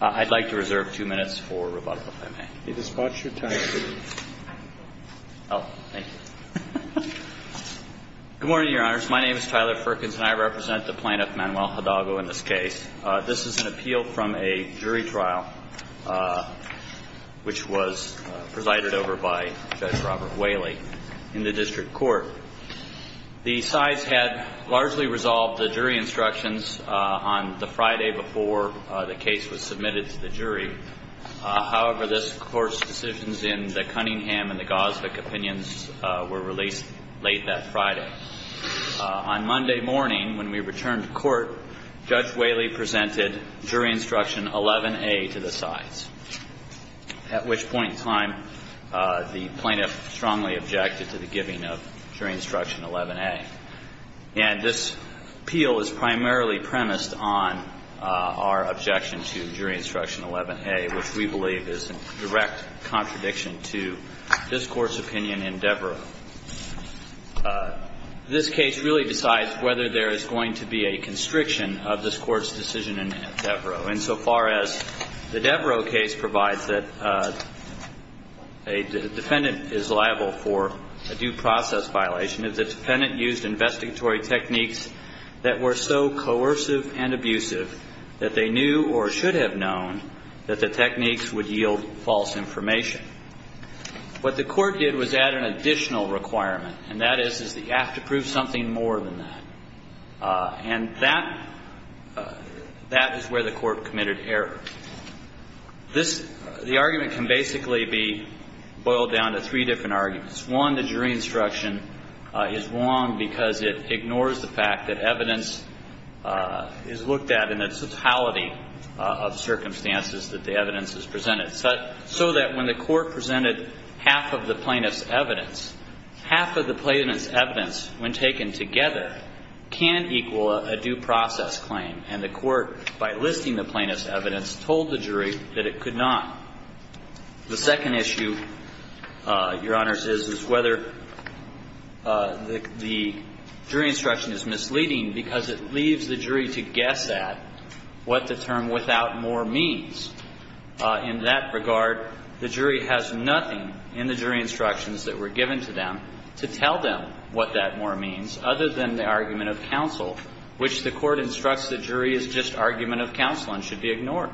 I'd like to reserve two minutes for rebuttal, if I may. You can spot your time. Good morning, Your Honors. My name is Tyler Ferkens, and I represent the plaintiff, Manuel Hidalgo, in this case. This is an appeal from a jury trial, which was presided over by Judge Robert Whaley in the district court. The sides had largely resolved the jury instructions on the Friday before the case was submitted to the jury. However, this Court's decisions in the Cunningham and the Gosvick opinions were released late that Friday. On Monday morning, when we returned to court, Judge Whaley presented jury instruction 11A to the sides, at which point in time the plaintiff strongly objected to the giving of jury instructions. And this appeal is primarily premised on our objection to jury instruction 11A, which we believe is in direct contradiction to this Court's opinion in Devereaux. This case really decides whether there is going to be a constriction of this Court's decision in Devereaux. Insofar as the Devereaux case provides that a defendant is liable for a due process violation, if the defendant used investigatory techniques that were so coercive and abusive that they knew or should have known that the techniques would yield false information, what the Court did was add an additional requirement, and that is that you have to prove something more than that. And that is where the Court committed error. This – the argument can basically be boiled down to three different arguments. One, the jury instruction is wrong because it ignores the fact that evidence is looked at in the totality of circumstances that the evidence is presented. So that when the Court presented half of the plaintiff's evidence, half of the plaintiff's evidence, when taken together, can equal a due process claim, and the Court, by listing the plaintiff's evidence, told the jury that it could not. The second issue, Your Honors, is whether the jury instruction is misleading because it leaves the jury to guess at what the term without more means. In that regard, the jury has nothing in the jury instructions that were given to them to tell them what that more means, other than the argument of counsel, which the Court instructs the jury is just argument of counsel and should be ignored.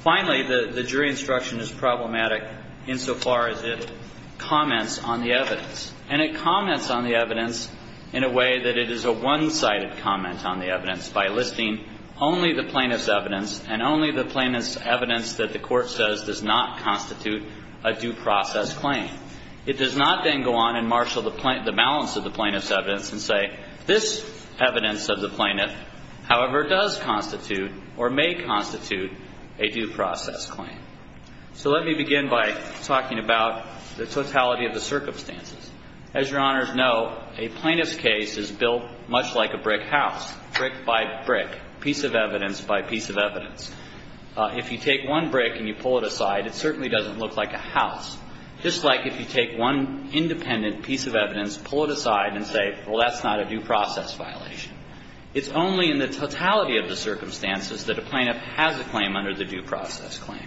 Finally, the jury instruction is problematic insofar as it comments on the evidence, and it comments on the evidence in a way that it is a one-sided comment on the evidence, by listing only the plaintiff's evidence and only the plaintiff's evidence. It does not then go on and marshal the plaintiff's evidence, the plaintiff's evidence, and say, this evidence of the plaintiff, however, does constitute or may constitute a due process claim. So let me begin by talking about the totality of the circumstances. As Your Honors know, a plaintiff's case is built much like a brick house, brick by brick, piece of evidence by piece of evidence. If you take one brick and you pull it aside, it certainly doesn't look like a house, just like if you take one independent piece of evidence, pull it aside, and say, well, that's not a due process violation. It's only in the totality of the circumstances that a plaintiff has a claim under the due process claim.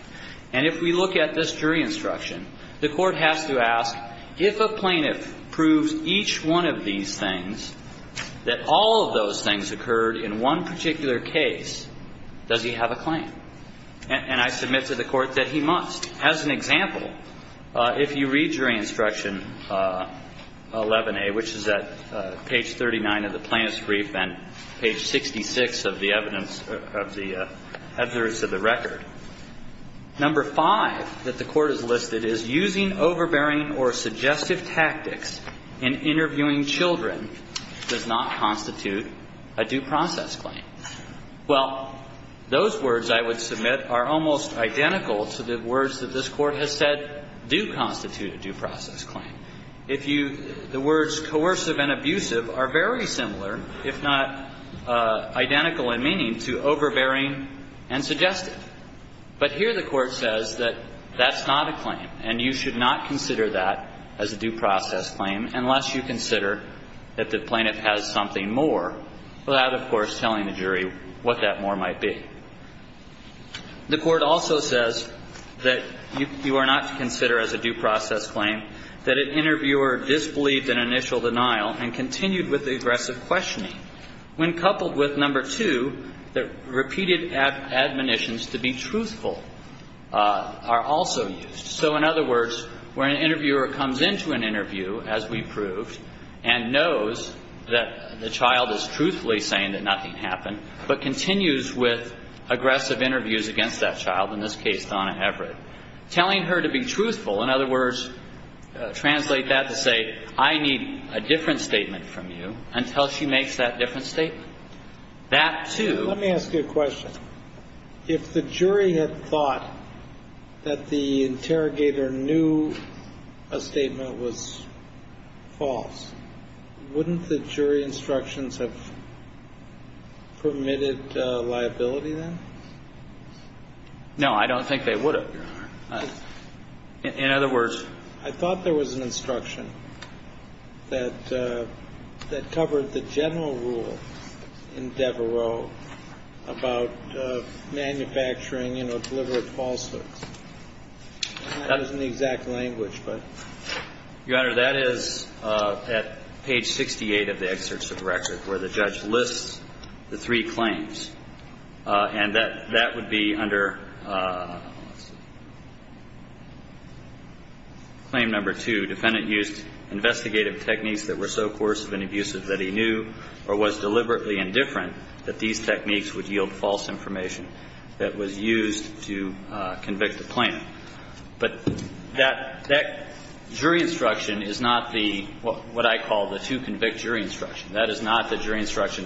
And if we look at this jury instruction, the Court has to ask, if a plaintiff proves each one of these things, that all of those things occurred in one particular case, does he have a claim? And I submit to the Court that he must. As an example, if you read jury instruction 11a, which is at page 39 of the Plaintiff's Clause, that's the evidence of the rest of the record, number 5 that the Court has listed is, using overbearing or suggestive tactics in interviewing children does not constitute a due process claim. Well, those words, I would submit, are almost identical to the words that this Court has said do constitute a due process claim. If you – the words coercive and abusive are very similar, if not identical in meaning, to overbearing and suggestive. But here the Court says that that's not a claim, and you should not consider that as a due process claim unless you consider that the plaintiff has something more without, of course, telling the jury what that more might be. The Court also says that you are not to consider as a due process claim that an interviewer disbelieved in initial denial and continued with the aggressive questioning when coupled with, number 2, that repeated admonitions to be truthful are also used. So in other words, where an interviewer comes into an interview, as we proved, and knows that the child is truthfully saying that nothing happened, but continues with aggressive interviews against that child, in this case, Donna Everett, telling her to be truthful, in other words, translate that to say, I need a different statement from you, until she makes that different statement, that, too – Let me ask you a question. If the jury had thought that the interrogator knew a statement was false, wouldn't the jury's instructions have permitted liability, then? No, I don't think they would have, Your Honor. In other words – I thought there was an instruction that covered the general rule in Devereaux about manufacturing and obliverate falsehoods. That's not in the exact language, but – That is not the jury instruction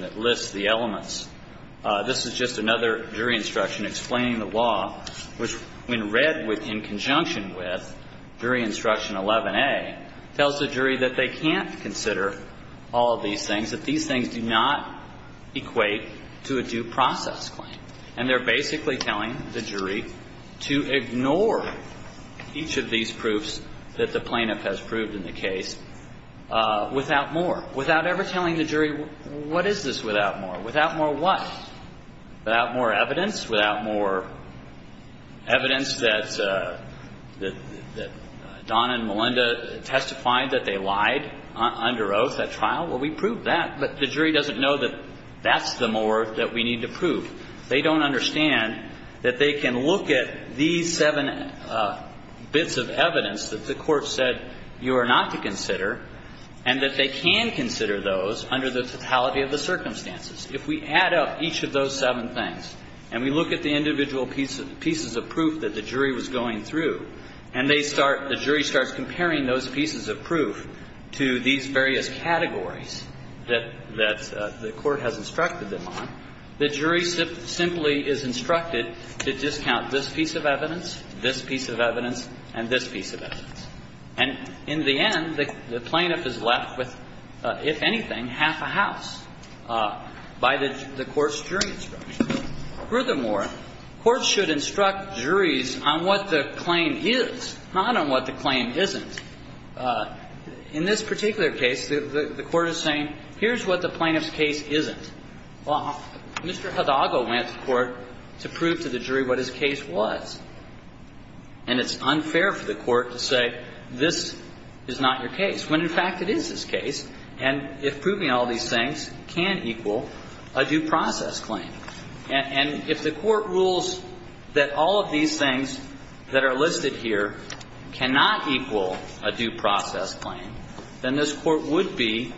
that lists the elements. This is just another jury instruction explaining the law, which, when read with – in conjunction with jury instruction 11a, tells the jury that they can't consider all of these things, that these things do not equate to a due process claim. And they're basically telling the jury to ignore each of these proofs that the plaintiff has proved in the case without more, without ever telling the jury, what is this without more, without more what? Without more evidence, without more evidence that Don and Melinda testified that they lied under oath at trial? Well, we proved that, but the jury doesn't know that that's the more that we need to prove. They don't understand that they can look at these seven bits of evidence that the jury has instructed them on, that you are not to consider, and that they can consider those under the totality of the circumstances. If we add up each of those seven things and we look at the individual pieces of proof that the jury was going through, and they start – the jury starts comparing those pieces of proof to these various categories that the court has instructed them on, the jury simply is instructed to discount this piece of evidence, this piece of evidence, and this piece of evidence. And in the end, the plaintiff is left with, if anything, half a house by the court's jury instruction. Furthermore, courts should instruct juries on what the claim is, not on what the claim isn't. In this particular case, the court is saying, here's what the plaintiff's case isn't. Well, Mr. Hidago went to court to prove to the jury what his case was. And it's unfair for the court to say, this is not your case, when, in fact, it is his case. And if proving all these things can equal a due process claim, and if the court rules that all of these things that are listed here cannot equal a due process claim, then this Court would be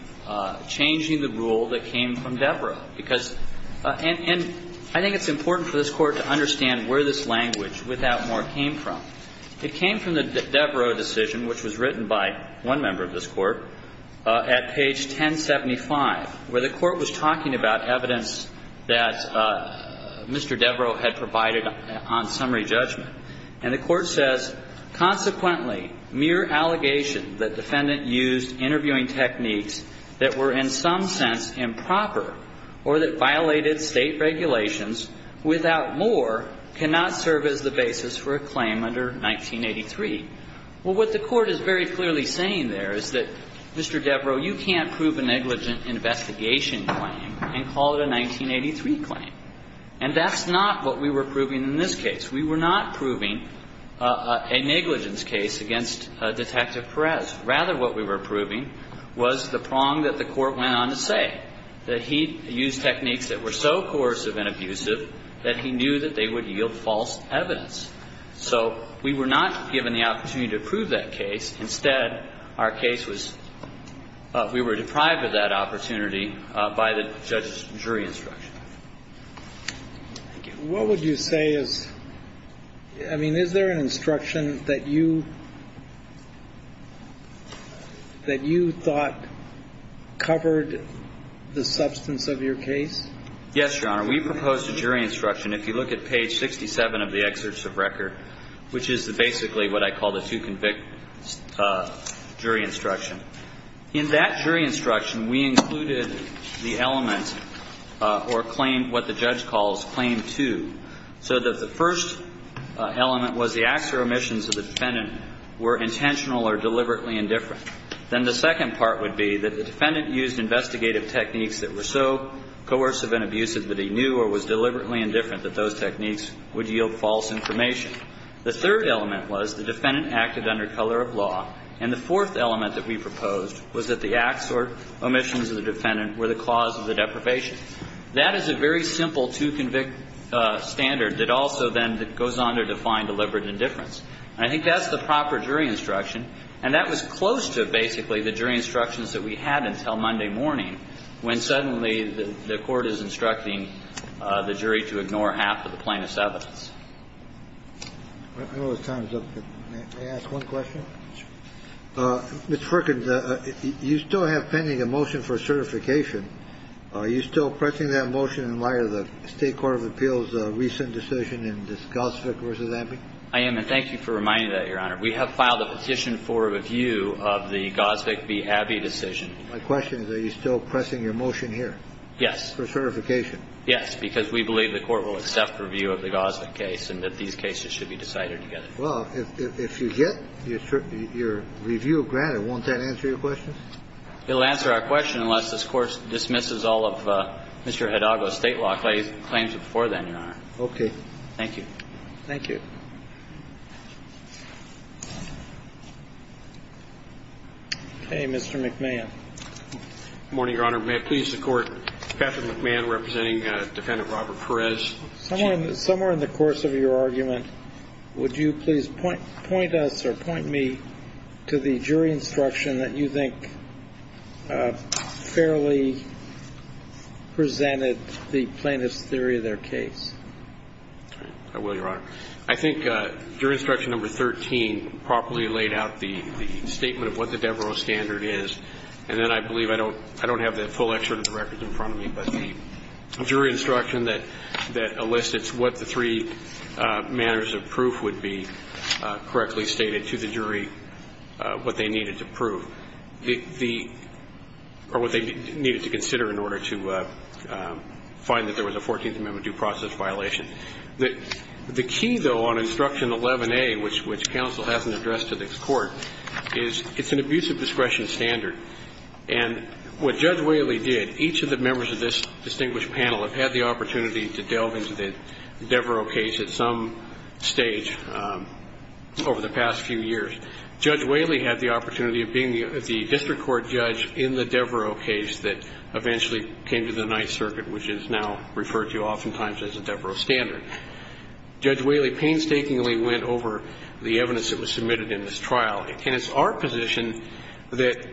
changing the rule that came from Deborah, because – and I think it's important for this Court to understand where this language without more came from. It came from the Deborah decision, which was written by one member of this Court, at page 1075, where the Court was talking about evidence that Mr. Deborah had provided on summary judgment. And the Court says, consequently, mere allegation that defendant used interviewing techniques that were in some sense improper or that violated State regulations without more cannot serve as the basis for a claim under 1983. Well, what the Court is very clearly saying there is that, Mr. Deborah, you can't prove a negligent investigation claim and call it a 1983 claim. And that's not what we were proving in this case. We were not proving a negligence case against Detective Perez. Rather, what we were proving was the prong that the Court went on to say, that he used techniques that were so coercive and abusive that he knew that they would yield false evidence. So we were not given the opportunity to prove that case. Instead, our case was – we were deprived of that opportunity by the judge's jury instruction. Thank you. What would you say is – I mean, is there an instruction that you – that you thought covered the substance of your case? Yes, Your Honor. We proposed a jury instruction. If you look at page 67 of the excerpts of record, which is basically what I call the two-convict jury instruction, in that jury instruction, we included the element or claim, what the judge calls claim two, so that the first element was the acts or omissions of the defendant were intentional or deliberately indifferent. Then the second part would be that the defendant used investigative techniques that were so coercive and abusive that he knew or was deliberately indifferent that those techniques would yield false information. The third element was the defendant acted under color of law. And the fourth element that we proposed was that the acts or omissions of the defendant were the cause of the deprivation. That is a very simple two-convict standard that also then goes on to define deliberate indifference. And I think that's the proper jury instruction. And that was close to, basically, the jury instructions that we had until Monday morning, when suddenly the Court is instructing the jury to ignore half of the plaintiff's evidence. I don't know if time is up, but may I ask one question? Mr. Frickin, you still have pending a motion for certification. Are you still pressing that motion in light of the State Court of Appeals' recent decision in the Goldsvig v. Abbey? I am, and thank you for reminding that, Your Honor. We have filed a petition for review of the Goldsvig v. Abbey decision. My question is, are you still pressing your motion here? Yes. For certification. Yes, because we believe the Court will accept review of the Goldsvig case and that these cases should be decided together. Well, if you get your review granted, won't that answer your question? It will answer our question unless this Court dismisses all of Mr. Hidalgo's State law claims before then, Your Honor. Okay. Thank you. Thank you. Okay, Mr. McMahon. Good morning, Your Honor. May it please the Court, Patrick McMahon representing Defendant Robert Perez. Somewhere in the course of your argument, would you please point us or point me to the jury instruction that you think fairly presented the plaintiff's theory of their case? I will, Your Honor. I think jury instruction number 13 properly laid out the statement of what the Devereaux standard is, and then I believe I don't have the full excerpt of the record in front of me, but the jury instruction that elicits what the three manners of proof would be correctly stated to the jury, what they needed to prove, or what they needed to consider in order to find that there was a 14th Amendment due process violation. The key, though, on instruction 11A, which counsel hasn't addressed to this Court, is it's an abusive discretion standard. And what Judge Whaley did, each of the members of this distinguished panel have had the opportunity to delve into the Devereaux case at some stage over the past few years. Judge Whaley had the opportunity of being the district court judge in the Devereaux case that eventually came to the Ninth Circuit, which is now referred to oftentimes as the Devereaux standard. Judge Whaley painstakingly went over the evidence that was submitted in this trial. And it's our position that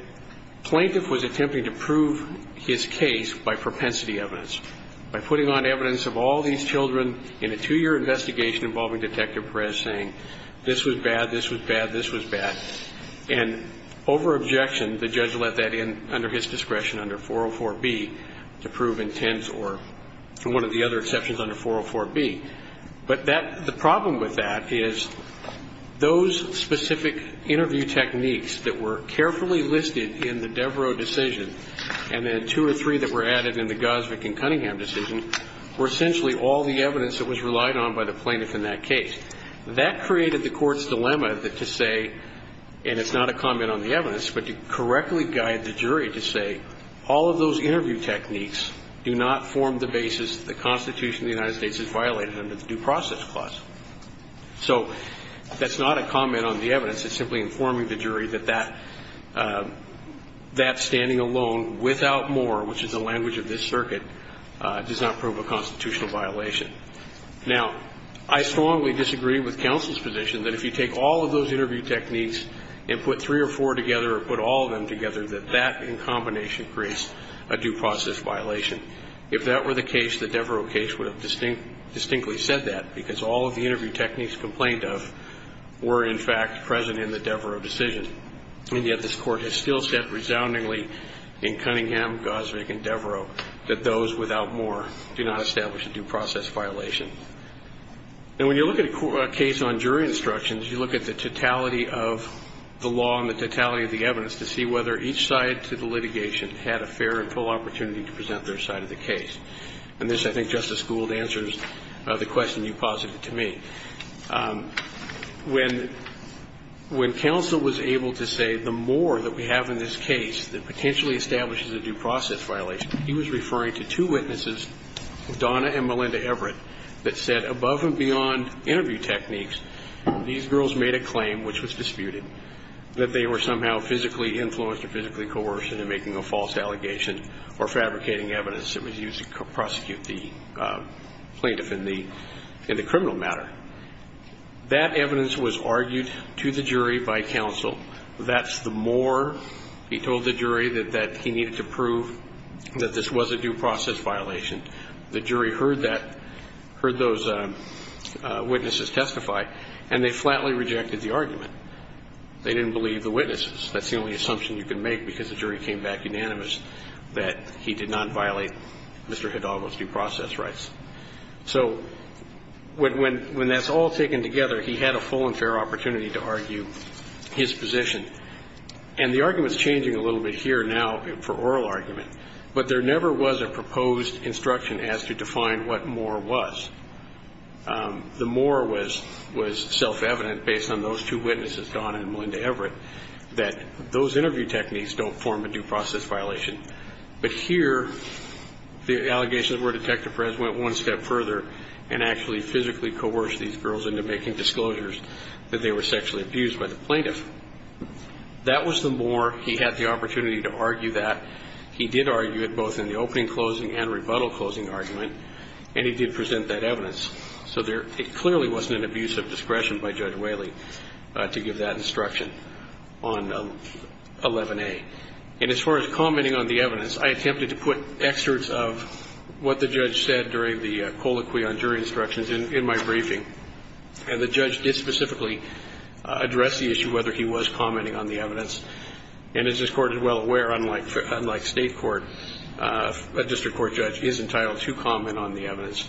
plaintiff was attempting to prove his case by propensity evidence, by putting on evidence of all these children in a two-year investigation involving Detective Perez, saying this was bad, this was bad, this was bad. And over objection, the judge let that in under his discretion, under 404B, to prove intent or one of the other exceptions under 404B. But that the problem with that is those specific interview techniques that were carefully listed in the Devereaux decision, and then two or three that were added in the Gosvick and Cunningham decision, were essentially all the evidence that was relied on by the plaintiff in that case. That created the Court's dilemma to say, and it's not a comment on the evidence, but to correctly guide the jury to say, all of those interview techniques do not form the basis that the Constitution of the United States is violated under the Due Process Clause. So that's not a comment on the evidence. It's simply informing the jury that that standing alone without more, which is the language of this circuit, does not prove a constitutional violation. Now, I strongly disagree with counsel's position that if you take all of those interview techniques and put three or four together or put all of them together, that that, in combination, creates a due process violation. If that were the case, the Devereaux case would have distinctly said that, because all of the interview techniques complained of were, in fact, present in the Devereaux decision, and yet this Court has still said, resoundingly, in Cunningham, Gosvick, and Devereaux, that those without more do not establish a due process violation. Now, when you look at a case on jury instructions, you look at the totality of the law and the totality of the evidence to see whether each side to the litigation had a fair and full opportunity to present their side of the case. And this, I think, Justice Gould, answers the question you posited to me. When counsel was able to say, the more that we have in this case that potentially establishes a due process violation, he was referring to two witnesses, Donna and Mary, that said, above and beyond interview techniques, these girls made a claim, which was disputed, that they were somehow physically influenced or physically coerced in making a false allegation or fabricating evidence that was used to prosecute the plaintiff in the criminal matter. That evidence was argued to the jury by counsel. That's the more he told the jury that he needed to prove that this was a due process violation. The jury heard that, heard those witnesses testify, and they flatly rejected the argument. They didn't believe the witnesses. That's the only assumption you can make because the jury came back unanimous that he did not violate Mr. Hidalgo's due process rights. So when that's all taken together, he had a full and fair opportunity to argue his position. And the argument is changing a little bit here now for oral argument. But there never was a proposed instruction as to define what more was. The more was self-evident based on those two witnesses, Donna and Melinda Everett, that those interview techniques don't form a due process violation. But here, the allegations were Detective Perez went one step further and actually physically coerced these girls into making disclosures that they were sexually abused by the plaintiff. That was the more he had the opportunity to argue that. He did argue it both in the opening closing and rebuttal closing argument. And he did present that evidence. So it clearly wasn't an abuse of discretion by Judge Whaley to give that instruction on 11A. And as far as commenting on the evidence, I attempted to put excerpts of what the judge said during the colloquy on jury instructions in my briefing. And the judge did specifically address the issue, whether he was commenting on the evidence. And as this court is well aware, unlike state court, a district court judge is entitled to comment on the evidence.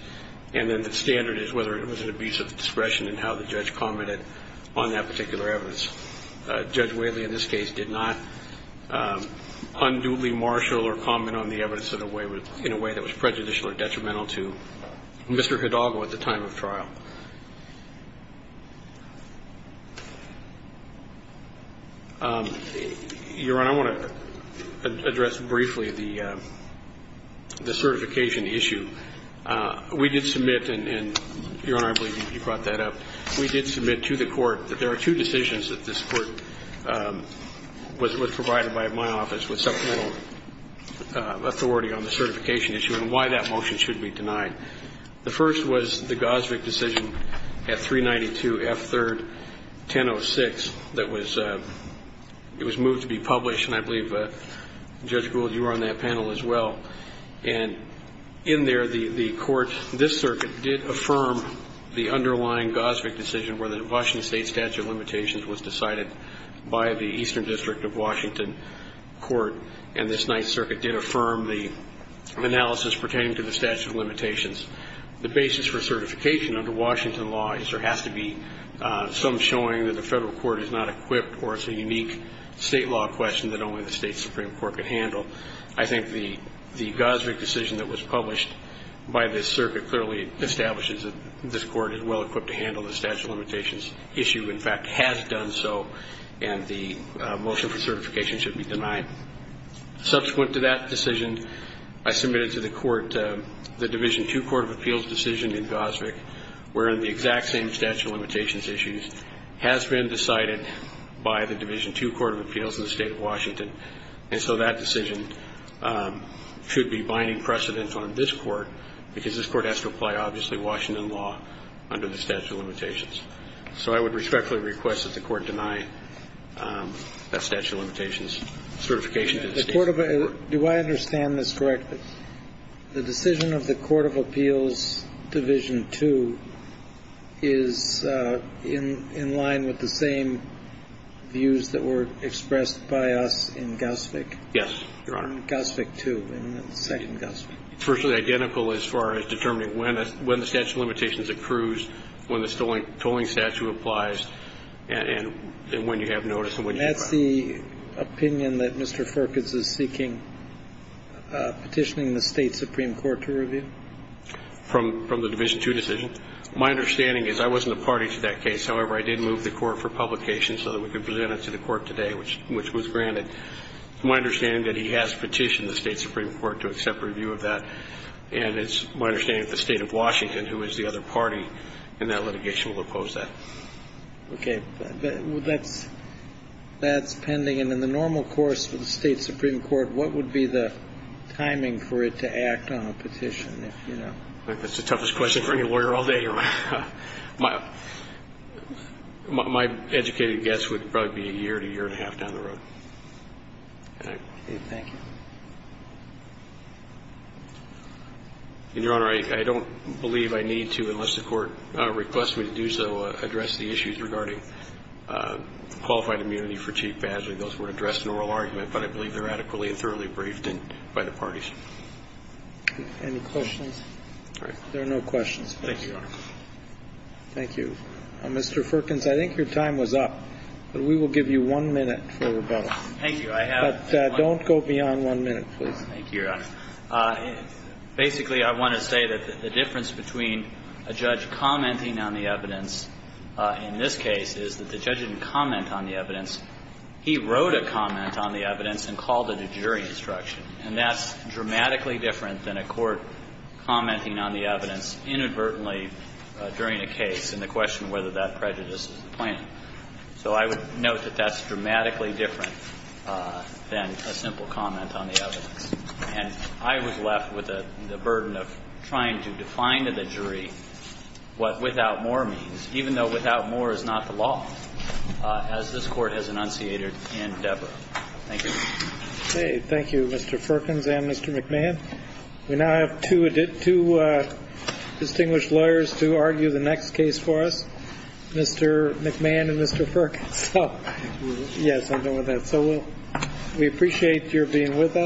And then the standard is whether it was an abuse of discretion and how the judge commented on that particular evidence. Judge Whaley, in this case, did not unduly marshal or comment on the evidence in a way that was prejudicial or detrimental to Mr. Hidalgo at the time of trial. Your Honor, I want to address briefly the certification issue. We did submit, and Your Honor, I believe you brought that up. We did submit to the court that there are two decisions that this court was provided by my office with supplemental authority on the certification issue and why that motion should be denied. The first was the Gosvick decision at 392 F3rd 1006 that was moved to be published. And I believe, Judge Gould, you were on that panel as well. And in there, the court, this circuit, did affirm the underlying Gosvick decision where the Washington State statute of limitations was decided by the Eastern District of Washington court, and this Ninth Circuit did affirm the analysis pertaining to the statute of limitations. The basis for certification under Washington law is there has to be some showing that the federal court is not equipped or it's a unique state law question that only the State Supreme Court could handle. I think the Gosvick decision that was published by this circuit clearly establishes that this court is well-equipped to handle the statute of limitations issue, in fact, has done so, and the motion for certification should be denied. Subsequent to that decision, I submitted to the court the Division II Court of Appeals decision in Gosvick wherein the exact same statute of limitations issues has been decided by the Division II Court of Appeals in the state of Washington. And so that decision should be binding precedent on this court because this court has to apply, obviously, Washington law under the statute of limitations. So I would respectfully request that the court deny that statute of limitations certification to the State Supreme Court. Do I understand this correctly? The decision of the Court of Appeals Division II is in line with the same views that were expressed by us in Gosvick? Yes, Your Honor. In Gosvick II, in the second Gosvick. It's virtually identical as far as determining when the statute of limitations accrues, when the tolling statute applies, and when you have notice and when you apply. And that's the opinion that Mr. Forkens is seeking, petitioning the State Supreme Court to review? From the Division II decision. My understanding is I wasn't a party to that case. However, I did move the court for publication so that we could present it to the court today, which was granted. It's my understanding that he has petitioned the State Supreme Court to accept review of that, and it's my understanding that the State of Washington, who is the other party in that litigation, will oppose that. Okay. Well, that's pending. And in the normal course for the State Supreme Court, what would be the timing for it to act on a petition, if you know? That's the toughest question for any lawyer all day, Your Honor. My educated guess would probably be a year to a year and a half down the road. Okay. Thank you. And, Your Honor, I don't believe I need to, unless the court requests me to do so, address the issues regarding qualified immunity for cheap badgering. Those were addressed in oral argument, but I believe they're adequately and thoroughly briefed by the parties. Any questions? There are no questions. Thank you, Your Honor. Thank you. Mr. Firkins, I think your time was up, but we will give you one minute for rebuttal. Thank you. I have one minute. But don't go beyond one minute, please. Thank you, Your Honor. Basically, I want to say that the difference between a judge commenting on the evidence in this case is that the judge didn't comment on the evidence. He wrote a comment on the evidence and called it a jury instruction. And that's dramatically different than a court commenting on the evidence inadvertently during a case and the question whether that prejudice is the plaintiff. So I would note that that's dramatically different than a simple comment on the evidence. And I was left with the burden of trying to define to the jury what, without more means, even though without more is not the law, as this Court has enunciated in Debra. Thank you. Okay. Thank you, Mr. Firkins and Mr. McMahon. We now have two distinguished lawyers to argue the next case for us, Mr. McMahon and Mr. Firkins. So, yes, I'll go with that. So we appreciate your being with us.